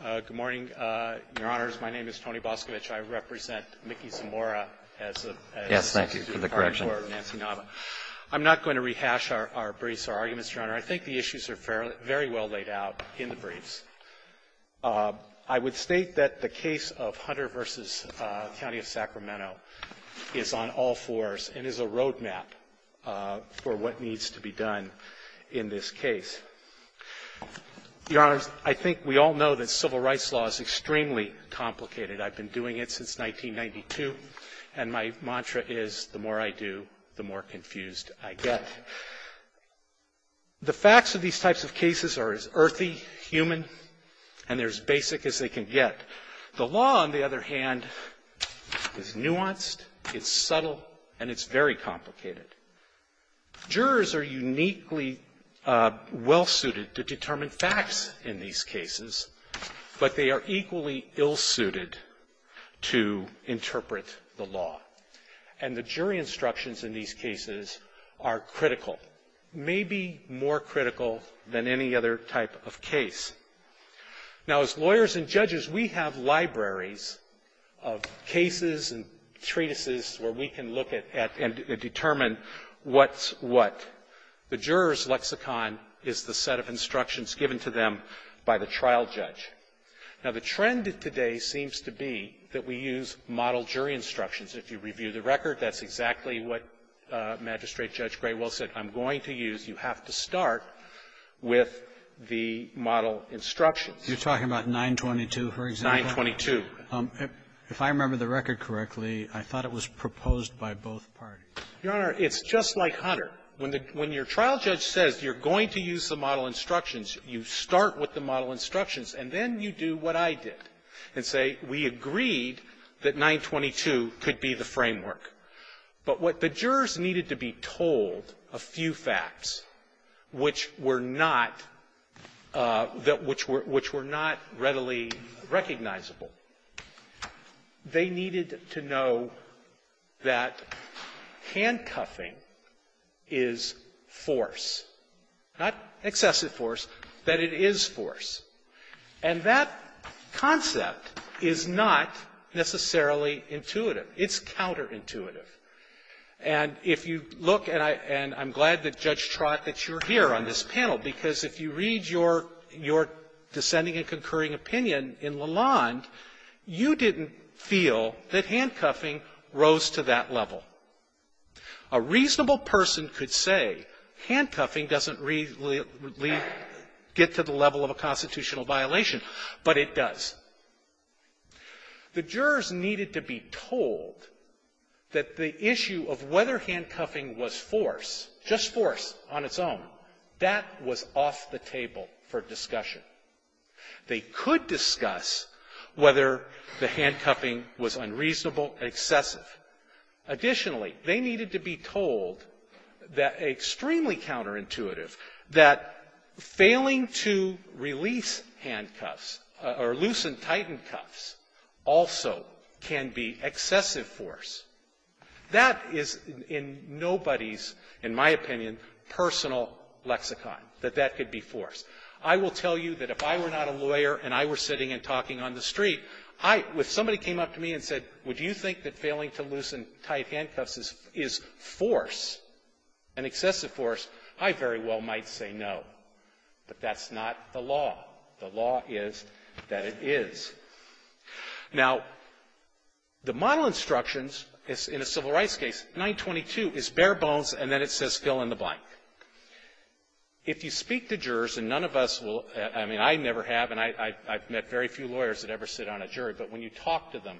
Good morning, Your Honors. My name is Tony Boscovich. I represent Micaela Zamora as a Yes, thank you for the correction. I'm not going to rehash our briefs or arguments, Your Honor. I think the issues are very well laid out in the briefs. I would state that the case of Hunter v. County of Sacramento is on all fours and is a roadmap for what needs to be done in this case. Your Honors, I think we all know that civil rights law is extremely complicated. I've been doing it since 1992, and my mantra is, the more I do, the more confused I get. The facts of these types of cases are as earthy, human, and they're as basic as they can get. The law, on the other hand, is nuanced, it's subtle, and it's very complicated. Jurors are uniquely well-suited to determine facts in these cases, but they are equally ill-suited to interpret the law. And the jury instructions in these cases are critical, maybe more critical than any other type of case. Now, as lawyers and judges, we have libraries of cases and treatises where we can look at and determine what's what. The juror's lexicon is the set of instructions given to them by the trial judge. Now, the trend today seems to be that we use model jury instructions. If you review the record, that's exactly what Magistrate Judge Graywell said I'm going to use. You have to start with the model instructions. You're talking about 922, for example? 922. If I remember the record correctly, I thought it was proposed by both parties. Your Honor, it's just like Hunter. When the – when your trial judge says you're going to use the model instructions, you start with the model instructions, and then you do what I did and say, we agreed that 922 could be the framework. But what the jurors needed to be told, a few facts, which were not that – which were not readily recognizable, they needed to know that handcuffing is force, not excessive force, that it is force. And that concept is not necessarily intuitive. It's counterintuitive. And if you look, and I'm glad that Judge Trott, that you're here on this panel, because if you read your – your dissenting and concurring opinion in Lalonde, you didn't feel that handcuffing rose to that level. A reasonable person could say handcuffing doesn't really get to the level of a constitutional violation, but it does. The jurors needed to be told that the issue of whether handcuffing was force, just force on its own, that was off the table for discussion. They could discuss whether the handcuffing was unreasonable, excessive. Additionally, they needed to be told that extremely counterintuitive, that failing to release handcuffs or loosen tightened cuffs also can be excessive force. That is in nobody's, in my opinion, personal lexicon, that that could be force. I will tell you that if I were not a lawyer and I were sitting and talking on the street, I – if somebody came up to me and said, would you think that failing to loosen tight handcuffs is – is force, an excessive force, I very well might say no. But that's not the law. The law is that it is. Now, the model instructions in a civil rights case, 922, is bare bones, and then it says fill in the blank. If you speak to jurors, and none of us will – I mean, I never have, and I've met very few lawyers that ever sit on a jury, but when you talk to them,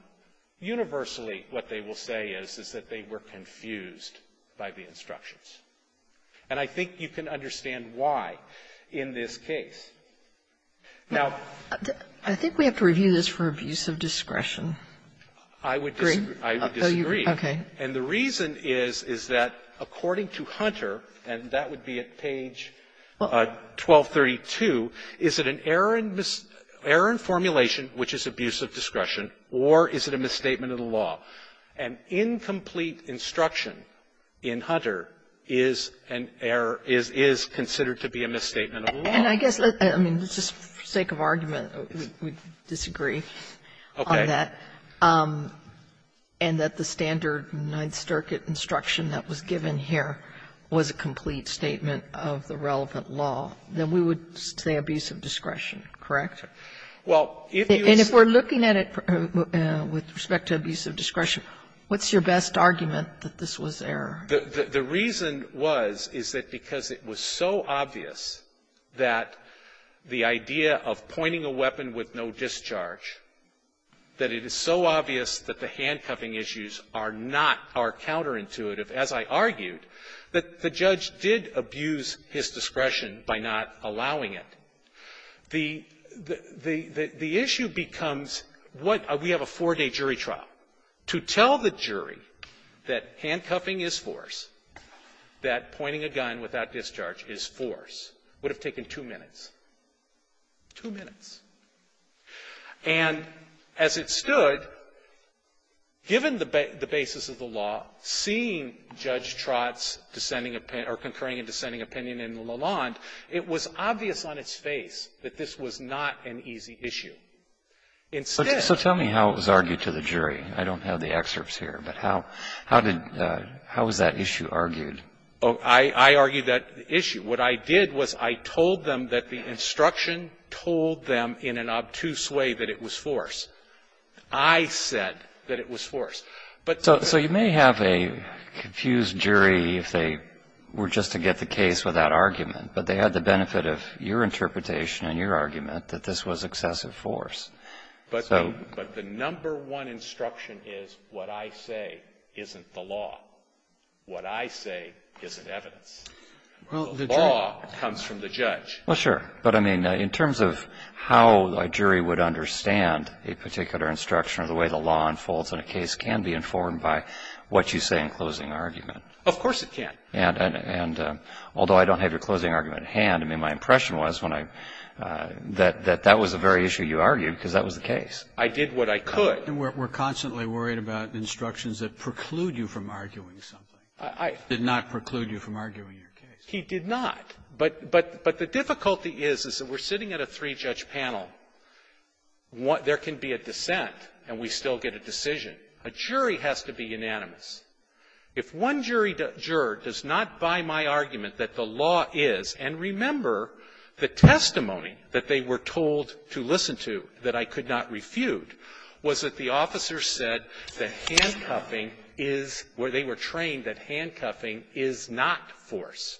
universally, what they will say is, is that they were confused by the instructions. And I think you can understand why in this Sotomayor, I think we have to review this for abuse of discretion. I would disagree. I would disagree. Okay. And the reason is, is that according to Hunter, and that would be at page 1232, is it an error in formulation, which is abuse of discretion, or is it a misstatement of the law? An incomplete instruction in Hunter is an error – is considered to be a misstatement of the law. And I guess let's – I mean, just for sake of argument, we disagree on that, and that the standard Ninth Circuit instruction that was given here was a complete misstatement of the relevant law, then we would say abuse of discretion, correct? Well, if you see – And if we're looking at it with respect to abuse of discretion, what's your best argument that this was error? The reason was, is that because it was so obvious that the idea of pointing a weapon with no discharge, that it is so obvious that the handcuffing issues are not our counterintuitive, as I argued, that the judge did abuse his discretion by not allowing it. The – the issue becomes what – we have a four-day jury trial. To tell the jury that handcuffing is force, that pointing a gun without discharge is force, would have taken two minutes. Two minutes. And as it stood, given the basis of the law, seeing Judge Trott's dissenting – or concurring and dissenting opinion in Lalonde, it was obvious on its face that this was not an easy issue. Instead – So tell me how it was argued to the jury. I don't have the excerpts here. But how – how did – how was that issue argued? Oh, I – I argued that issue. What I did was I told them that the instruction told them in an obtuse way that it was force. I said that it was force. But the – So you may have a confused jury if they were just to get the case with that argument. But they had the benefit of your interpretation and your argument that this was excessive force. So – But the number one instruction is what I say isn't the law. What I say isn't evidence. Well, the jury – The law comes from the judge. Well, sure. But, I mean, in terms of how a jury would understand a particular instruction or the way the law unfolds in a case can be informed by what you say in closing argument. Of course it can. And – and although I don't have your closing argument at hand, I mean, my impression was when I – that – that that was the very issue you argued, because that was the case. I did what I could. And we're – we're constantly worried about instructions that preclude you from arguing something. I – Did not preclude you from arguing your case. He did not. But – but – but the difficulty is, is that we're sitting at a three-judge panel. There can be a dissent, and we still get a decision. A jury has to be unanimous. If one jury – juror does not buy my argument that the law is – and remember, the testimony that they were told to listen to, that I could not refute, was that the officer said that handcuffing is – where they were trained that handcuffing is not force.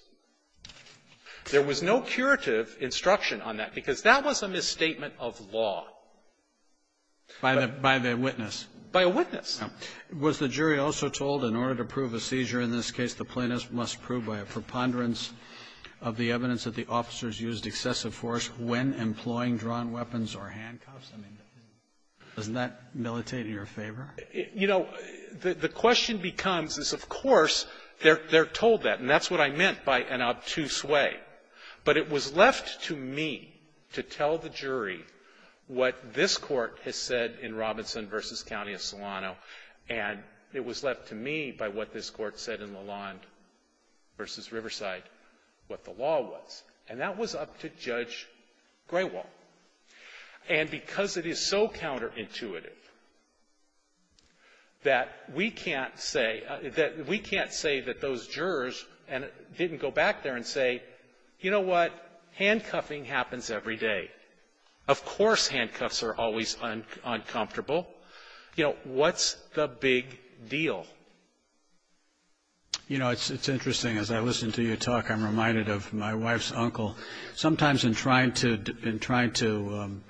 There was no curative instruction on that, because that was a misstatement of law. By the – by the witness. By a witness. Now, was the jury also told in order to prove a seizure in this case, the plaintiff must prove by a preponderance of the evidence that the officers used excessive force when employing drawn weapons or handcuffs? I mean, doesn't that militate in your favor? You know, the question becomes is, of course, they're – they're told that. And that's what I meant by an obtuse way. But it was left to me to tell the jury what this Court has said in Robinson v. County of Solano, and it was left to me by what this Court said in Lalonde v. Riverside what the law was. And that was up to Judge Grewal. And because it is so counterintuitive, that we can't say – that we can't say that those jurors didn't go back there and say, you know what, handcuffing happens every day. Of course handcuffs are always uncomfortable. You know, what's the big deal? You know, it's interesting. As I listen to you talk, I'm reminded of my wife's uncle. Sometimes in trying to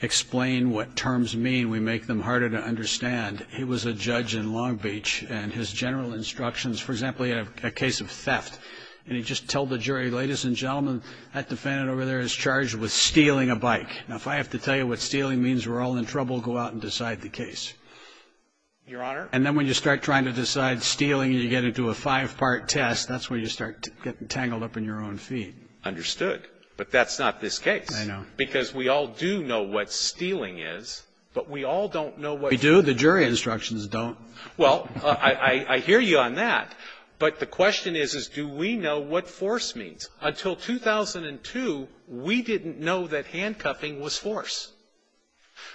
explain what terms mean, we make them harder to understand. He was a judge in Long Beach, and his general instructions – for example, he had a case of theft. And he just told the jury, ladies and gentlemen, that defendant over there is charged with stealing a bike. Now, if I have to tell you what stealing means, we're all in trouble. Go out and decide the case. Your Honor? And then when you start trying to decide stealing, you get into a five-part test. That's when you start getting tangled up in your own feet. Understood. But that's not this case. I know. Because we all do know what stealing is, but we all don't know what – We do. The jury instructions don't. Well, I hear you on that. But the question is, is do we know what force means? Until 2002, we didn't know that handcuffing was force.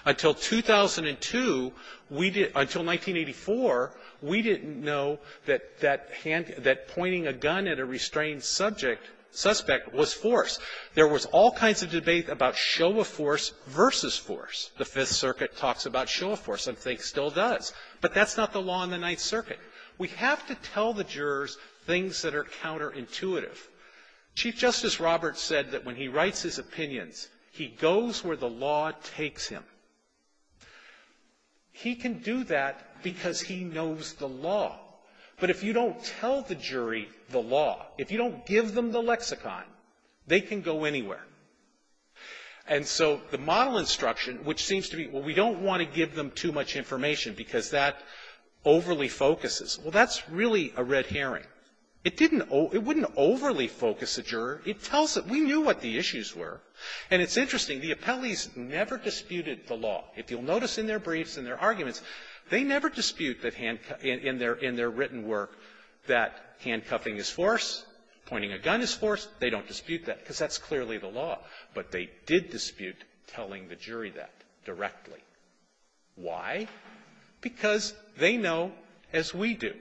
Until 2002, we didn't – until the Fifth Circuit was force. There was all kinds of debate about show of force versus force. The Fifth Circuit talks about show of force, and I think still does. But that's not the law in the Ninth Circuit. We have to tell the jurors things that are counterintuitive. Chief Justice Roberts said that when he writes his opinions, he goes where the law takes him. He can do that because he knows the law. But if you don't tell the jury the law, if you don't give them the lexicon, they can go anywhere. And so the model instruction, which seems to be, well, we don't want to give them too much information because that overly focuses, well, that's really a red herring. It didn't – it wouldn't overly focus a juror. It tells it. We knew what the issues were. And it's interesting. The appellees never disputed the law. If you'll notice in their briefs and their arguments, they never dispute that handcuff in their written work, that handcuffing is force, pointing a gun is force. They don't dispute that because that's clearly the law. But they did dispute telling the jury that directly. Why? Because they know, as we do,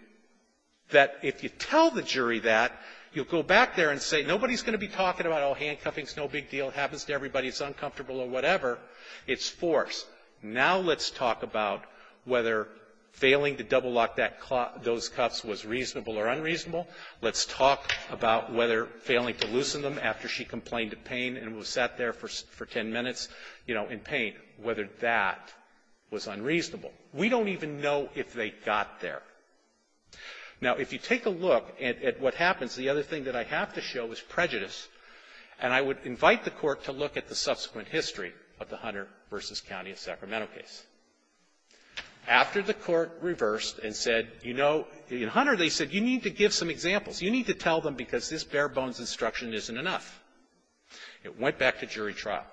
that if you tell the jury that, you'll go back there and say nobody's going to be talking about, oh, handcuffing is no big deal, happens to everybody, it's uncomfortable or whatever. It's force. Now let's talk about whether failing to double-lock that – those cuffs was reasonable or unreasonable. Let's talk about whether failing to loosen them after she complained of pain and was sat there for ten minutes, you know, in pain, whether that was unreasonable. We don't even know if they got there. Now, if you take a look at what happens, the other thing that I have to show is prejudice. And I would invite the Court to look at the subsequent history of the Hunter v. County Sacramento case. After the Court reversed and said, you know, in Hunter, they said, you need to give some examples. You need to tell them because this bare-bones instruction isn't enough. It went back to jury trial.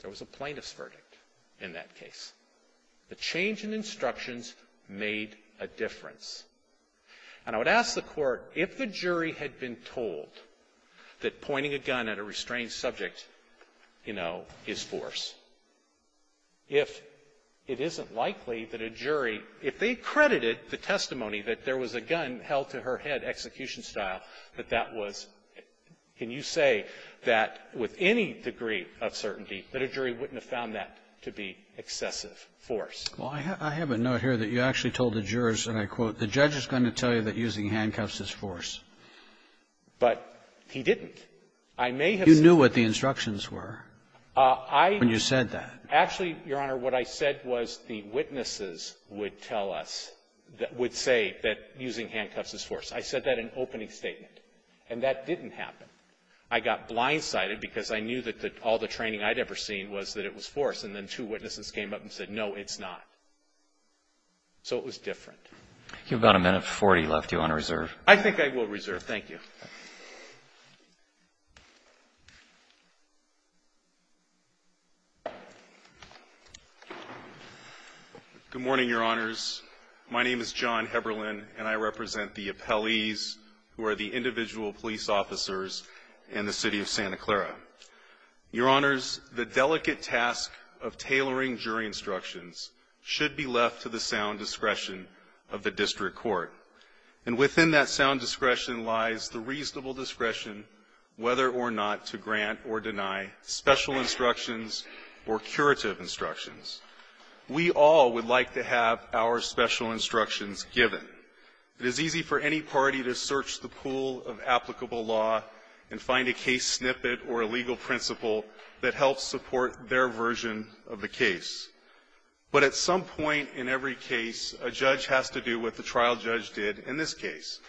There was a plaintiff's verdict in that case. The change in instructions made a difference. And I would ask the Court, if the jury had been told that pointing a gun at a restrained subject, you know, is force, if it isn't likely that a jury, if they credited the testimony that there was a gun held to her head execution-style, that that was – can you say that with any degree of certainty that a jury wouldn't have found that to be excessive force? Well, I have a note here that you actually told the jurors, and I quote, the judge is going to tell you that using handcuffs is force. But he didn't. I may have said I didn't know what the instructions were when you said that. Actually, Your Honor, what I said was the witnesses would tell us, would say that using handcuffs is force. I said that in opening statement. And that didn't happen. I got blindsided because I knew that all the training I'd ever seen was that it was force. And then two witnesses came up and said, no, it's not. So it was different. You've got a minute 40 left. Do you want to reserve? I think I will reserve. Thank you. Good morning, Your Honors. My name is John Heberlin, and I represent the appellees who are the individual police officers in the City of Santa Clara. Your Honors, the delicate task of tailoring jury instructions should be left to the sound discretion of the District Attorney, with reasonable discretion, whether or not to grant or deny special instructions or curative instructions. We all would like to have our special instructions given. It is easy for any party to search the pool of applicable law and find a case snippet or a legal principle that helps support their version of the case. But at some point in every case, a judge has to do what the trial judge did in this case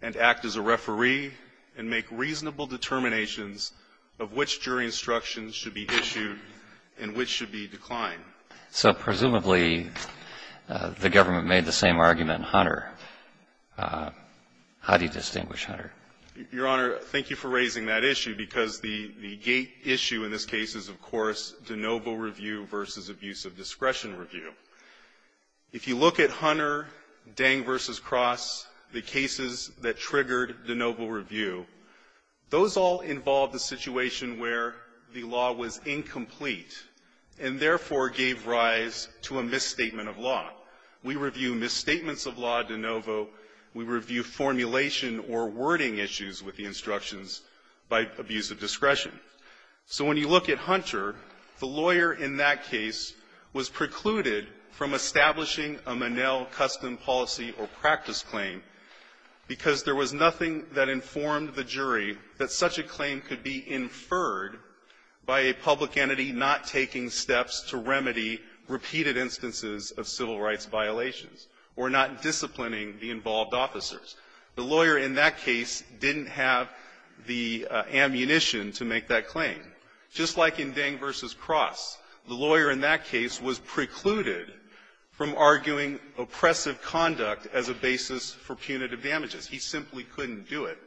and act as a referee and make reasonable determinations of which jury instructions should be issued and which should be declined. So presumably, the government made the same argument in Hunter. How do you distinguish Hunter? Your Honor, thank you for raising that issue, because the gate issue in this case is, of course, de novo review versus abuse of discretion review. If you look at Hunter, Dang v. Cross, the cases that triggered de novo review, those all involved a situation where the law was incomplete and therefore gave rise to a misstatement of law. We review misstatements of law de novo. We review formulation or wording issues with the instructions by abuse of discretion. So when you look at Hunter, the lawyer in that case was precluded from establishing a Monell custom policy or practice claim because there was nothing that informed the jury that such a claim could be inferred by a public entity not taking steps to remedy repeated instances of civil rights violations or not disciplining the involved officers. The lawyer in that case didn't have the ammunition to make that claim. Just like in Dang v. Cross, the lawyer in that case was precluded from arguing oppressive conduct as a basis for punitive damages. He simply couldn't do it.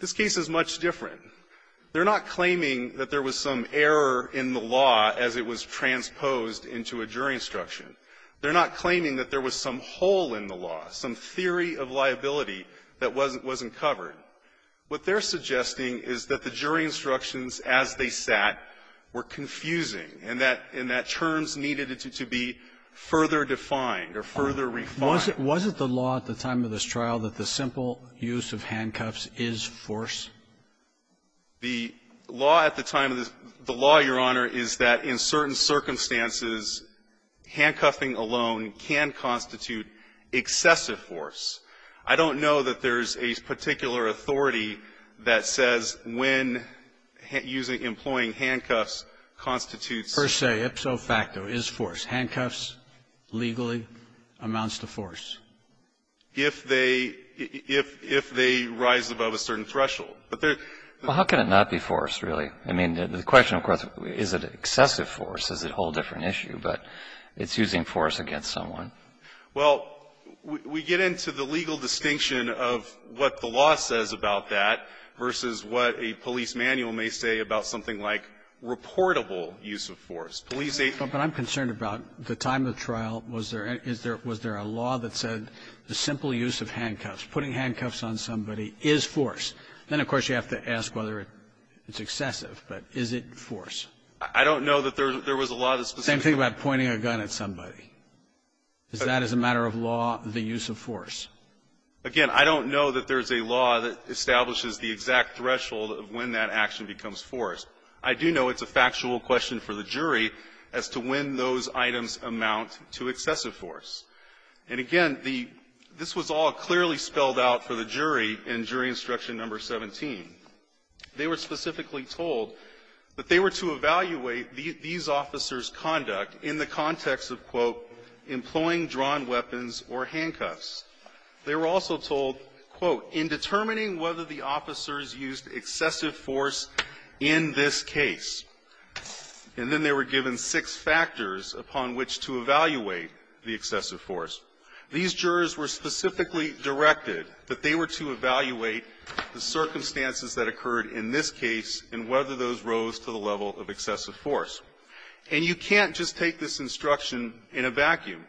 This case is much different. They're not claiming that there was some error in the law as it was transposed into a jury instruction. They're not claiming that there was some hole in the law, some theory of liability that wasn't covered. What they're suggesting is that the jury instructions as they sat were confusing, and that terms needed to be further defined or further refined. Was it the law at the time of this trial that the simple use of handcuffs is force? The law at the time of this law, Your Honor, is that in certain circumstances, handcuffing alone can constitute excessive force. I don't know that there's a particular authority that says when using employing handcuffs constitutes per se, ipso facto, is force. Handcuffs legally amounts to force. If they rise above a certain threshold. But there's the question of course, is it excessive force? Is it a whole different issue? But it's using force against someone. Well, we get into the legal distinction of what the law says about that versus what a police manual may say about something like reportable use of force. But I'm concerned about the time of the trial. Was there a law that said the simple use of handcuffs, putting handcuffs on somebody, is force. Then, of course, you have to ask whether it's excessive, but is it force? I don't know that there was a law that specifically said that. Same thing about pointing a gun at somebody. Is that as a matter of law, the use of force? Again, I don't know that there's a law that establishes the exact threshold of when that action becomes force. I do know it's a factual question for the jury as to when those items amount to excessive force. And again, the this was all clearly spelled out for the jury in jury instruction number 17. They were specifically told that they were to evaluate these officers' conduct in the context of, quote, employing drawn weapons or handcuffs. They were also told, quote, in determining whether the officers used excessive force in this case. And then they were given six factors upon which to evaluate the excessive force. These jurors were specifically directed that they were to evaluate the circumstances that occurred in this case and whether those rose to the level of excessive force. And you can't just take this instruction in a vacuum.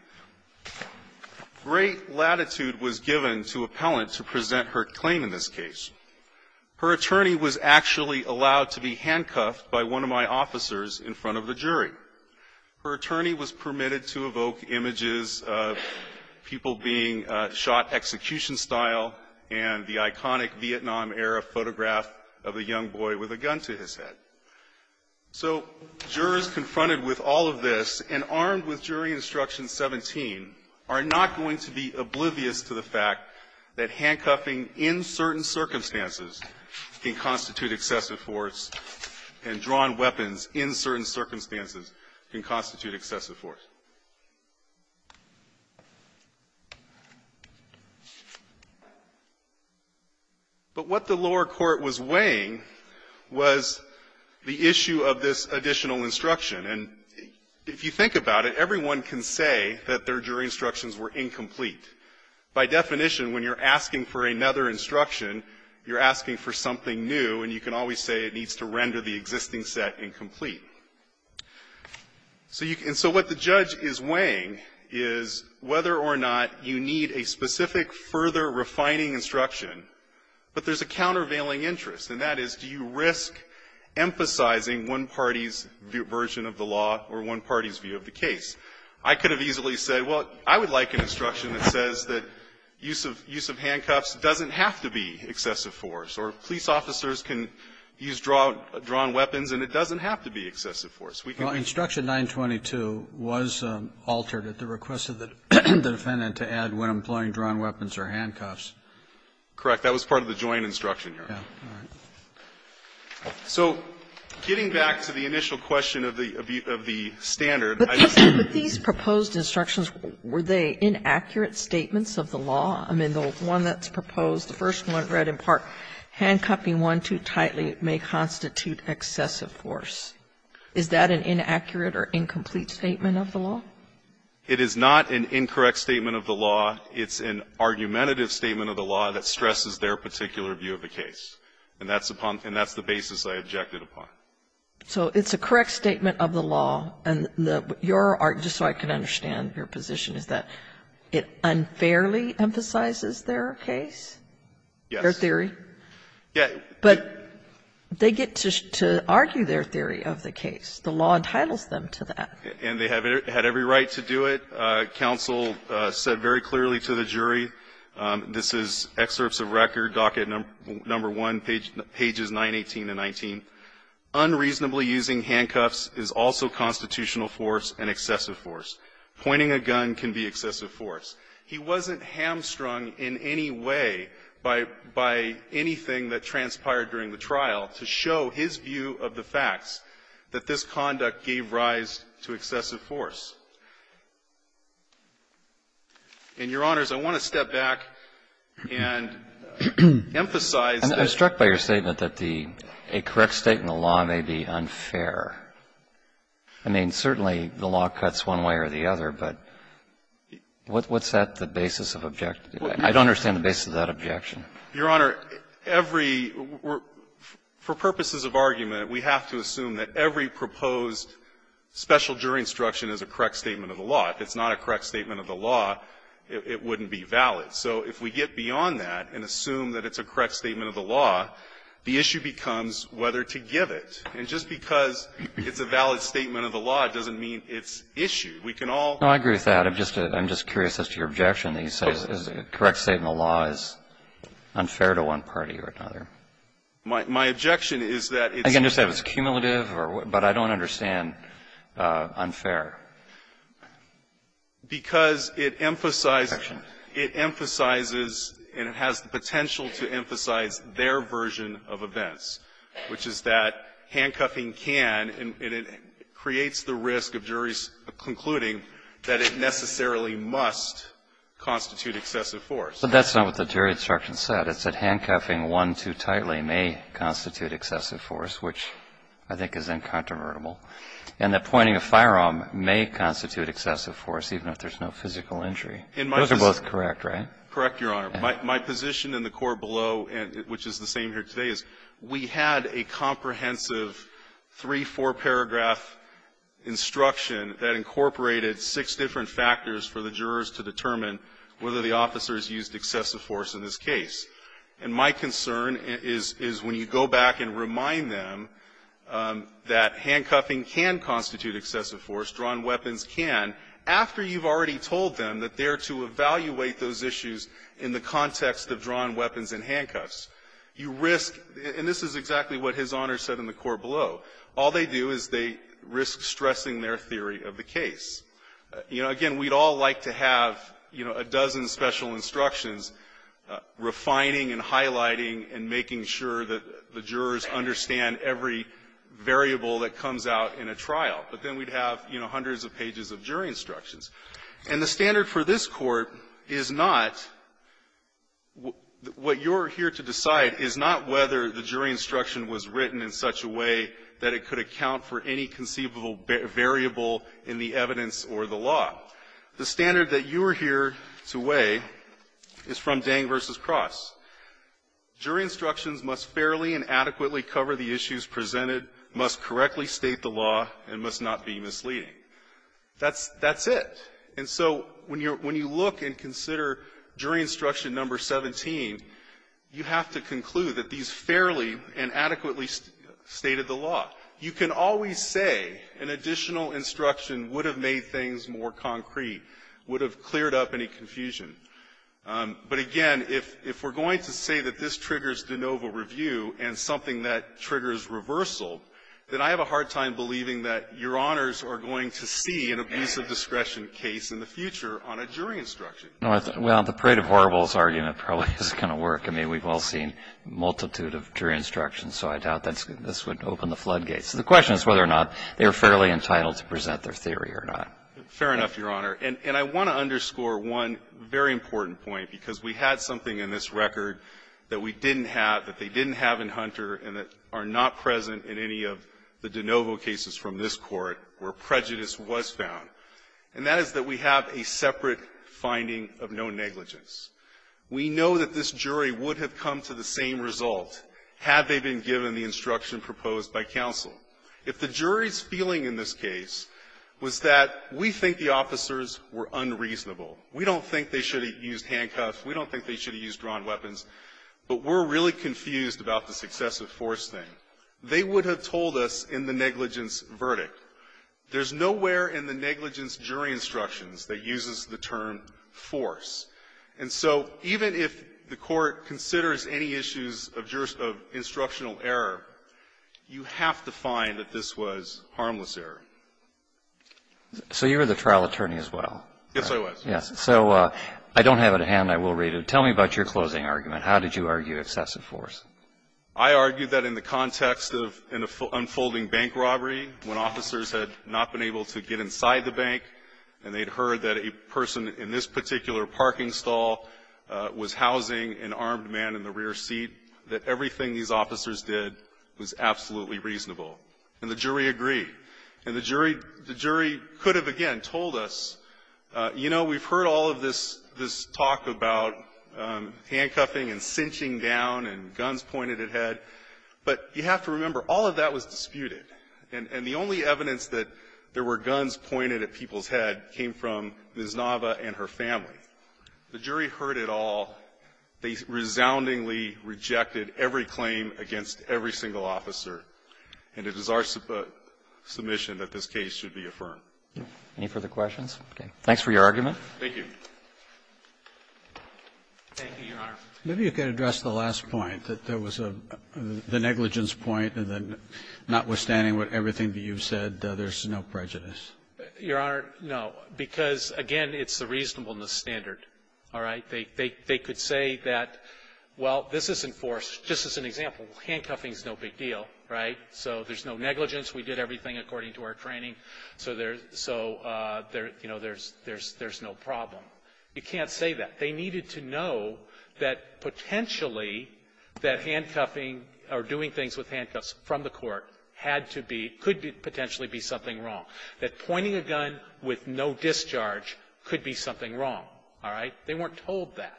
Great latitude was given to Appellant to present her claim in this case. Her attorney was actually allowed to be handcuffed by one of my officers in front of the jury. Her attorney was permitted to evoke images of people being shot execution-style and the iconic Vietnam-era photograph of a young boy with a gun to his head. So jurors confronted with all of this and armed with jury instruction 17 are not going to be oblivious to the fact that handcuffing in certain circumstances can constitute excessive force and drawn weapons in certain circumstances can constitute excessive force. The issue of this additional instruction, and if you think about it, everyone can say that their jury instructions were incomplete. By definition, when you're asking for another instruction, you're asking for something new, and you can always say it needs to render the existing set incomplete. So you can so what the judge is weighing is whether or not you need a specific, further refining instruction, but there's a countervailing interest, and that is, do you risk emphasizing one party's version of the law or one party's view of the case? I could have easily said, well, I would like an instruction that says that use of handcuffs doesn't have to be excessive force, or police officers can use drawn weapons and it doesn't have to be excessive force. We can do that. Roberts, Instruction 922 was altered at the request of the defendant to add when employing drawn weapons or handcuffs. Correct. That was part of the joint instruction here. So getting back to the initial question of the standard, I just want to say that these proposed instructions, were they inaccurate statements of the law? I mean, the one that's proposed, the first one read in part, handcuffing one too tightly may constitute excessive force. Is that an inaccurate or incomplete statement of the law? It is not an incorrect statement of the law. It's an argumentative statement of the law that stresses their particular view of the case. And that's upon the basis I objected upon. So it's a correct statement of the law, and your argument, just so I can understand your position, is that it unfairly emphasizes their case? Yes. Their theory? Yes. But they get to argue their theory of the case. The law entitles them to that. And they had every right to do it. I think counsel said very clearly to the jury, this is excerpts of record, docket number 1, pages 918 to 19. Unreasonably using handcuffs is also constitutional force and excessive force. Pointing a gun can be excessive force. He wasn't hamstrung in any way by anything that transpired during the trial to show his view of the facts that this conduct gave rise to excessive force. And, Your Honors, I want to step back and emphasize that the law may be unfair. I mean, certainly the law cuts one way or the other, but what's that, the basis of objection? I don't understand the basis of that objection. Your Honor, every we're for purposes of argument, we have to assume that every proposed special jury instruction is a correct statement of the law. If it's not a correct statement of the law, it wouldn't be valid. So if we get beyond that and assume that it's a correct statement of the law, the issue becomes whether to give it. And just because it's a valid statement of the law doesn't mean it's issue. We can all be fair. No, I agree with that. I'm just curious as to your objection that you say a correct statement of the law is unfair to one party or another. My objection is that it's not. And again, just that it's cumulative, but I don't understand unfair. Because it emphasizes and it has the potential to emphasize their version of events, which is that handcuffing can and it creates the risk of juries concluding that it necessarily must constitute excessive force. But that's not what the jury instruction said. It said handcuffing one too tightly may constitute excessive force, which I think is incontrovertible. And that pointing a firearm may constitute excessive force, even if there's no physical injury. Those are both correct, right? Correct, Your Honor. My position in the court below, which is the same here today, is we had a comprehensive three-, four-paragraph instruction that incorporated six different factors for the jurors to determine whether the officers used excessive force in this case. And my concern is when you go back and remind them that handcuffing can constitute excessive force, drawn weapons can, after you've already told them that they're to evaluate those issues in the context of drawn weapons and handcuffs, you risk – and this is exactly what His Honor said in the court below – all they do is they risk stressing their theory of the case. You know, again, we'd all like to have, you know, a dozen special instructions refining and highlighting and making sure that the jurors understand every variable that comes out in a trial. But then we'd have, you know, hundreds of pages of jury instructions. And the standard for this Court is not – what you're here to decide is not whether the jury instruction was written in such a way that it could account for any conceivable variable in the evidence or the law. The standard that you are here to weigh is from Dang v. Cross. Jury instructions must fairly and adequately cover the issues presented, must correctly state the law, and must not be misleading. That's – that's it. And so when you look and consider jury instruction number 17, you have to conclude that these fairly and adequately stated the law. You can always say an additional instruction would have made things more concrete, would have cleared up any confusion. But again, if we're going to say that this triggers de novo review and something that triggers reversal, then I have a hard time believing that Your Honors are going to see an abuse of discretion case in the future on a jury instruction. Well, the parade of horribles argument probably isn't going to work. I mean, we've all seen a multitude of jury instructions, so I doubt that this would open the floodgates. So the question is whether or not they are fairly entitled to present their theory or not. Fair enough, Your Honor. And I want to underscore one very important point, because we had something in this record that we didn't have, that they didn't have in Hunter, and that are not present in any of the de novo cases from this Court where prejudice was found. And that is that we have a separate finding of no negligence. We know that this jury would have come to the same result had they been given the jury instruction proposed by counsel. If the jury's feeling in this case was that we think the officers were unreasonable, we don't think they should have used handcuffs, we don't think they should have used drawn weapons, but we're really confused about the successive force thing, they would have told us in the negligence verdict. There's nowhere in the negligence jury instructions that uses the term force. And so even if the Court considers any issues of jurisdictional error, you have to find that this was harmless error. So you were the trial attorney as well. Yes, I was. Yes. So I don't have it at hand. I will read it. Tell me about your closing argument. How did you argue excessive force? I argued that in the context of an unfolding bank robbery, when officers had not been able to get inside the bank, and they'd heard that a person in this particular parking stall was housing an armed man in the rear seat, that everything these officers did was absolutely reasonable, and the jury agreed. And the jury could have, again, told us, you know, we've heard all of this talk about handcuffing and cinching down and guns pointed at head, but you have to remember, all of that was disputed. And the only evidence that there were guns pointed at people's head came from Ms. Nava and her family. The jury heard it all. They resoundingly rejected every claim against every single officer. And it is our submission that this case should be affirmed. Any further questions? Okay. Thanks for your argument. Thank you. Thank you, Your Honor. Maybe you could address the last point, that there was a negligence point, and then notwithstanding what everything that you've said, there's no prejudice. Your Honor, no, because, again, it's the reasonableness standard. All right? They could say that, well, this is enforced. Just as an example, handcuffing is no big deal, right? So there's no negligence. We did everything according to our training. So there's no problem. You can't say that. They needed to know that, potentially, that handcuffing or doing things with handcuffs from the court had to be, could potentially be something wrong, that pointing a gun with no discharge could be something wrong, all right? They weren't told that.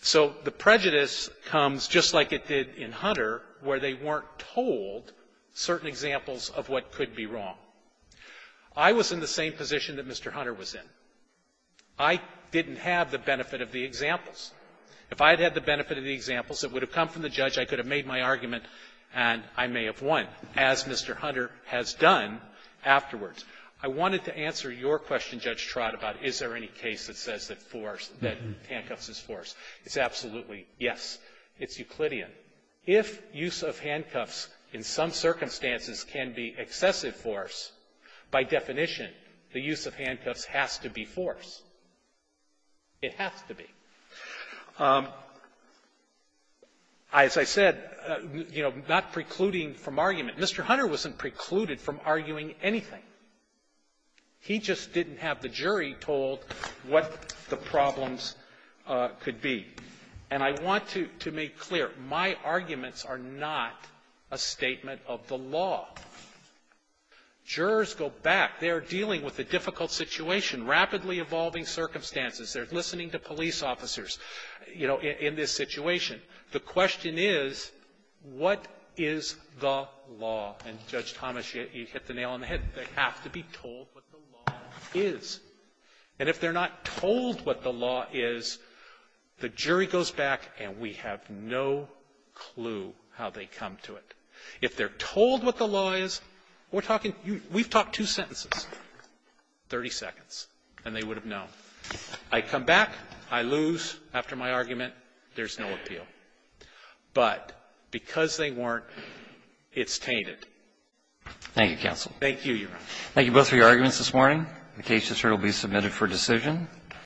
So the prejudice comes, just like it did in Hunter, where they weren't told certain examples of what could be wrong. I was in the same position that Mr. Hunter was in. I didn't have the benefit of the examples. If I had had the benefit of the examples that would have come from the judge, I could have made my argument, and I may have won, as Mr. Hunter has done afterwards. I wanted to answer your question, Judge Trot, about is there any case that says that force, that handcuffs is force. It's absolutely yes. It's Euclidean. If use of handcuffs in some circumstances can be excessive force, by definition, the use of handcuffs has to be force. It has to be. As I said, you know, not precluding from argument, Mr. Hunter wasn't precluded from arguing anything. He just didn't have the jury told what the problems could be. And I want to make clear, my arguments are not a statement of the law. Jurors go back. They're dealing with a difficult situation, rapidly evolving circumstances. They're listening to police officers, you know, in this situation. The question is, what is the law? And, Judge Thomas, you hit the nail on the head. They have to be told what the law is. And if they're not told what the law is, the jury goes back, and we have no clue how they come to it. If they're told what the law is, we're talking to you, we've talked two sentences, 30 seconds, and they would have known. I come back, I lose after my argument, there's no appeal. But because they weren't, it's tainted. Thank you, counsel. Thank you, Your Honor. Thank you both for your arguments this morning. The case is here to be submitted for decision.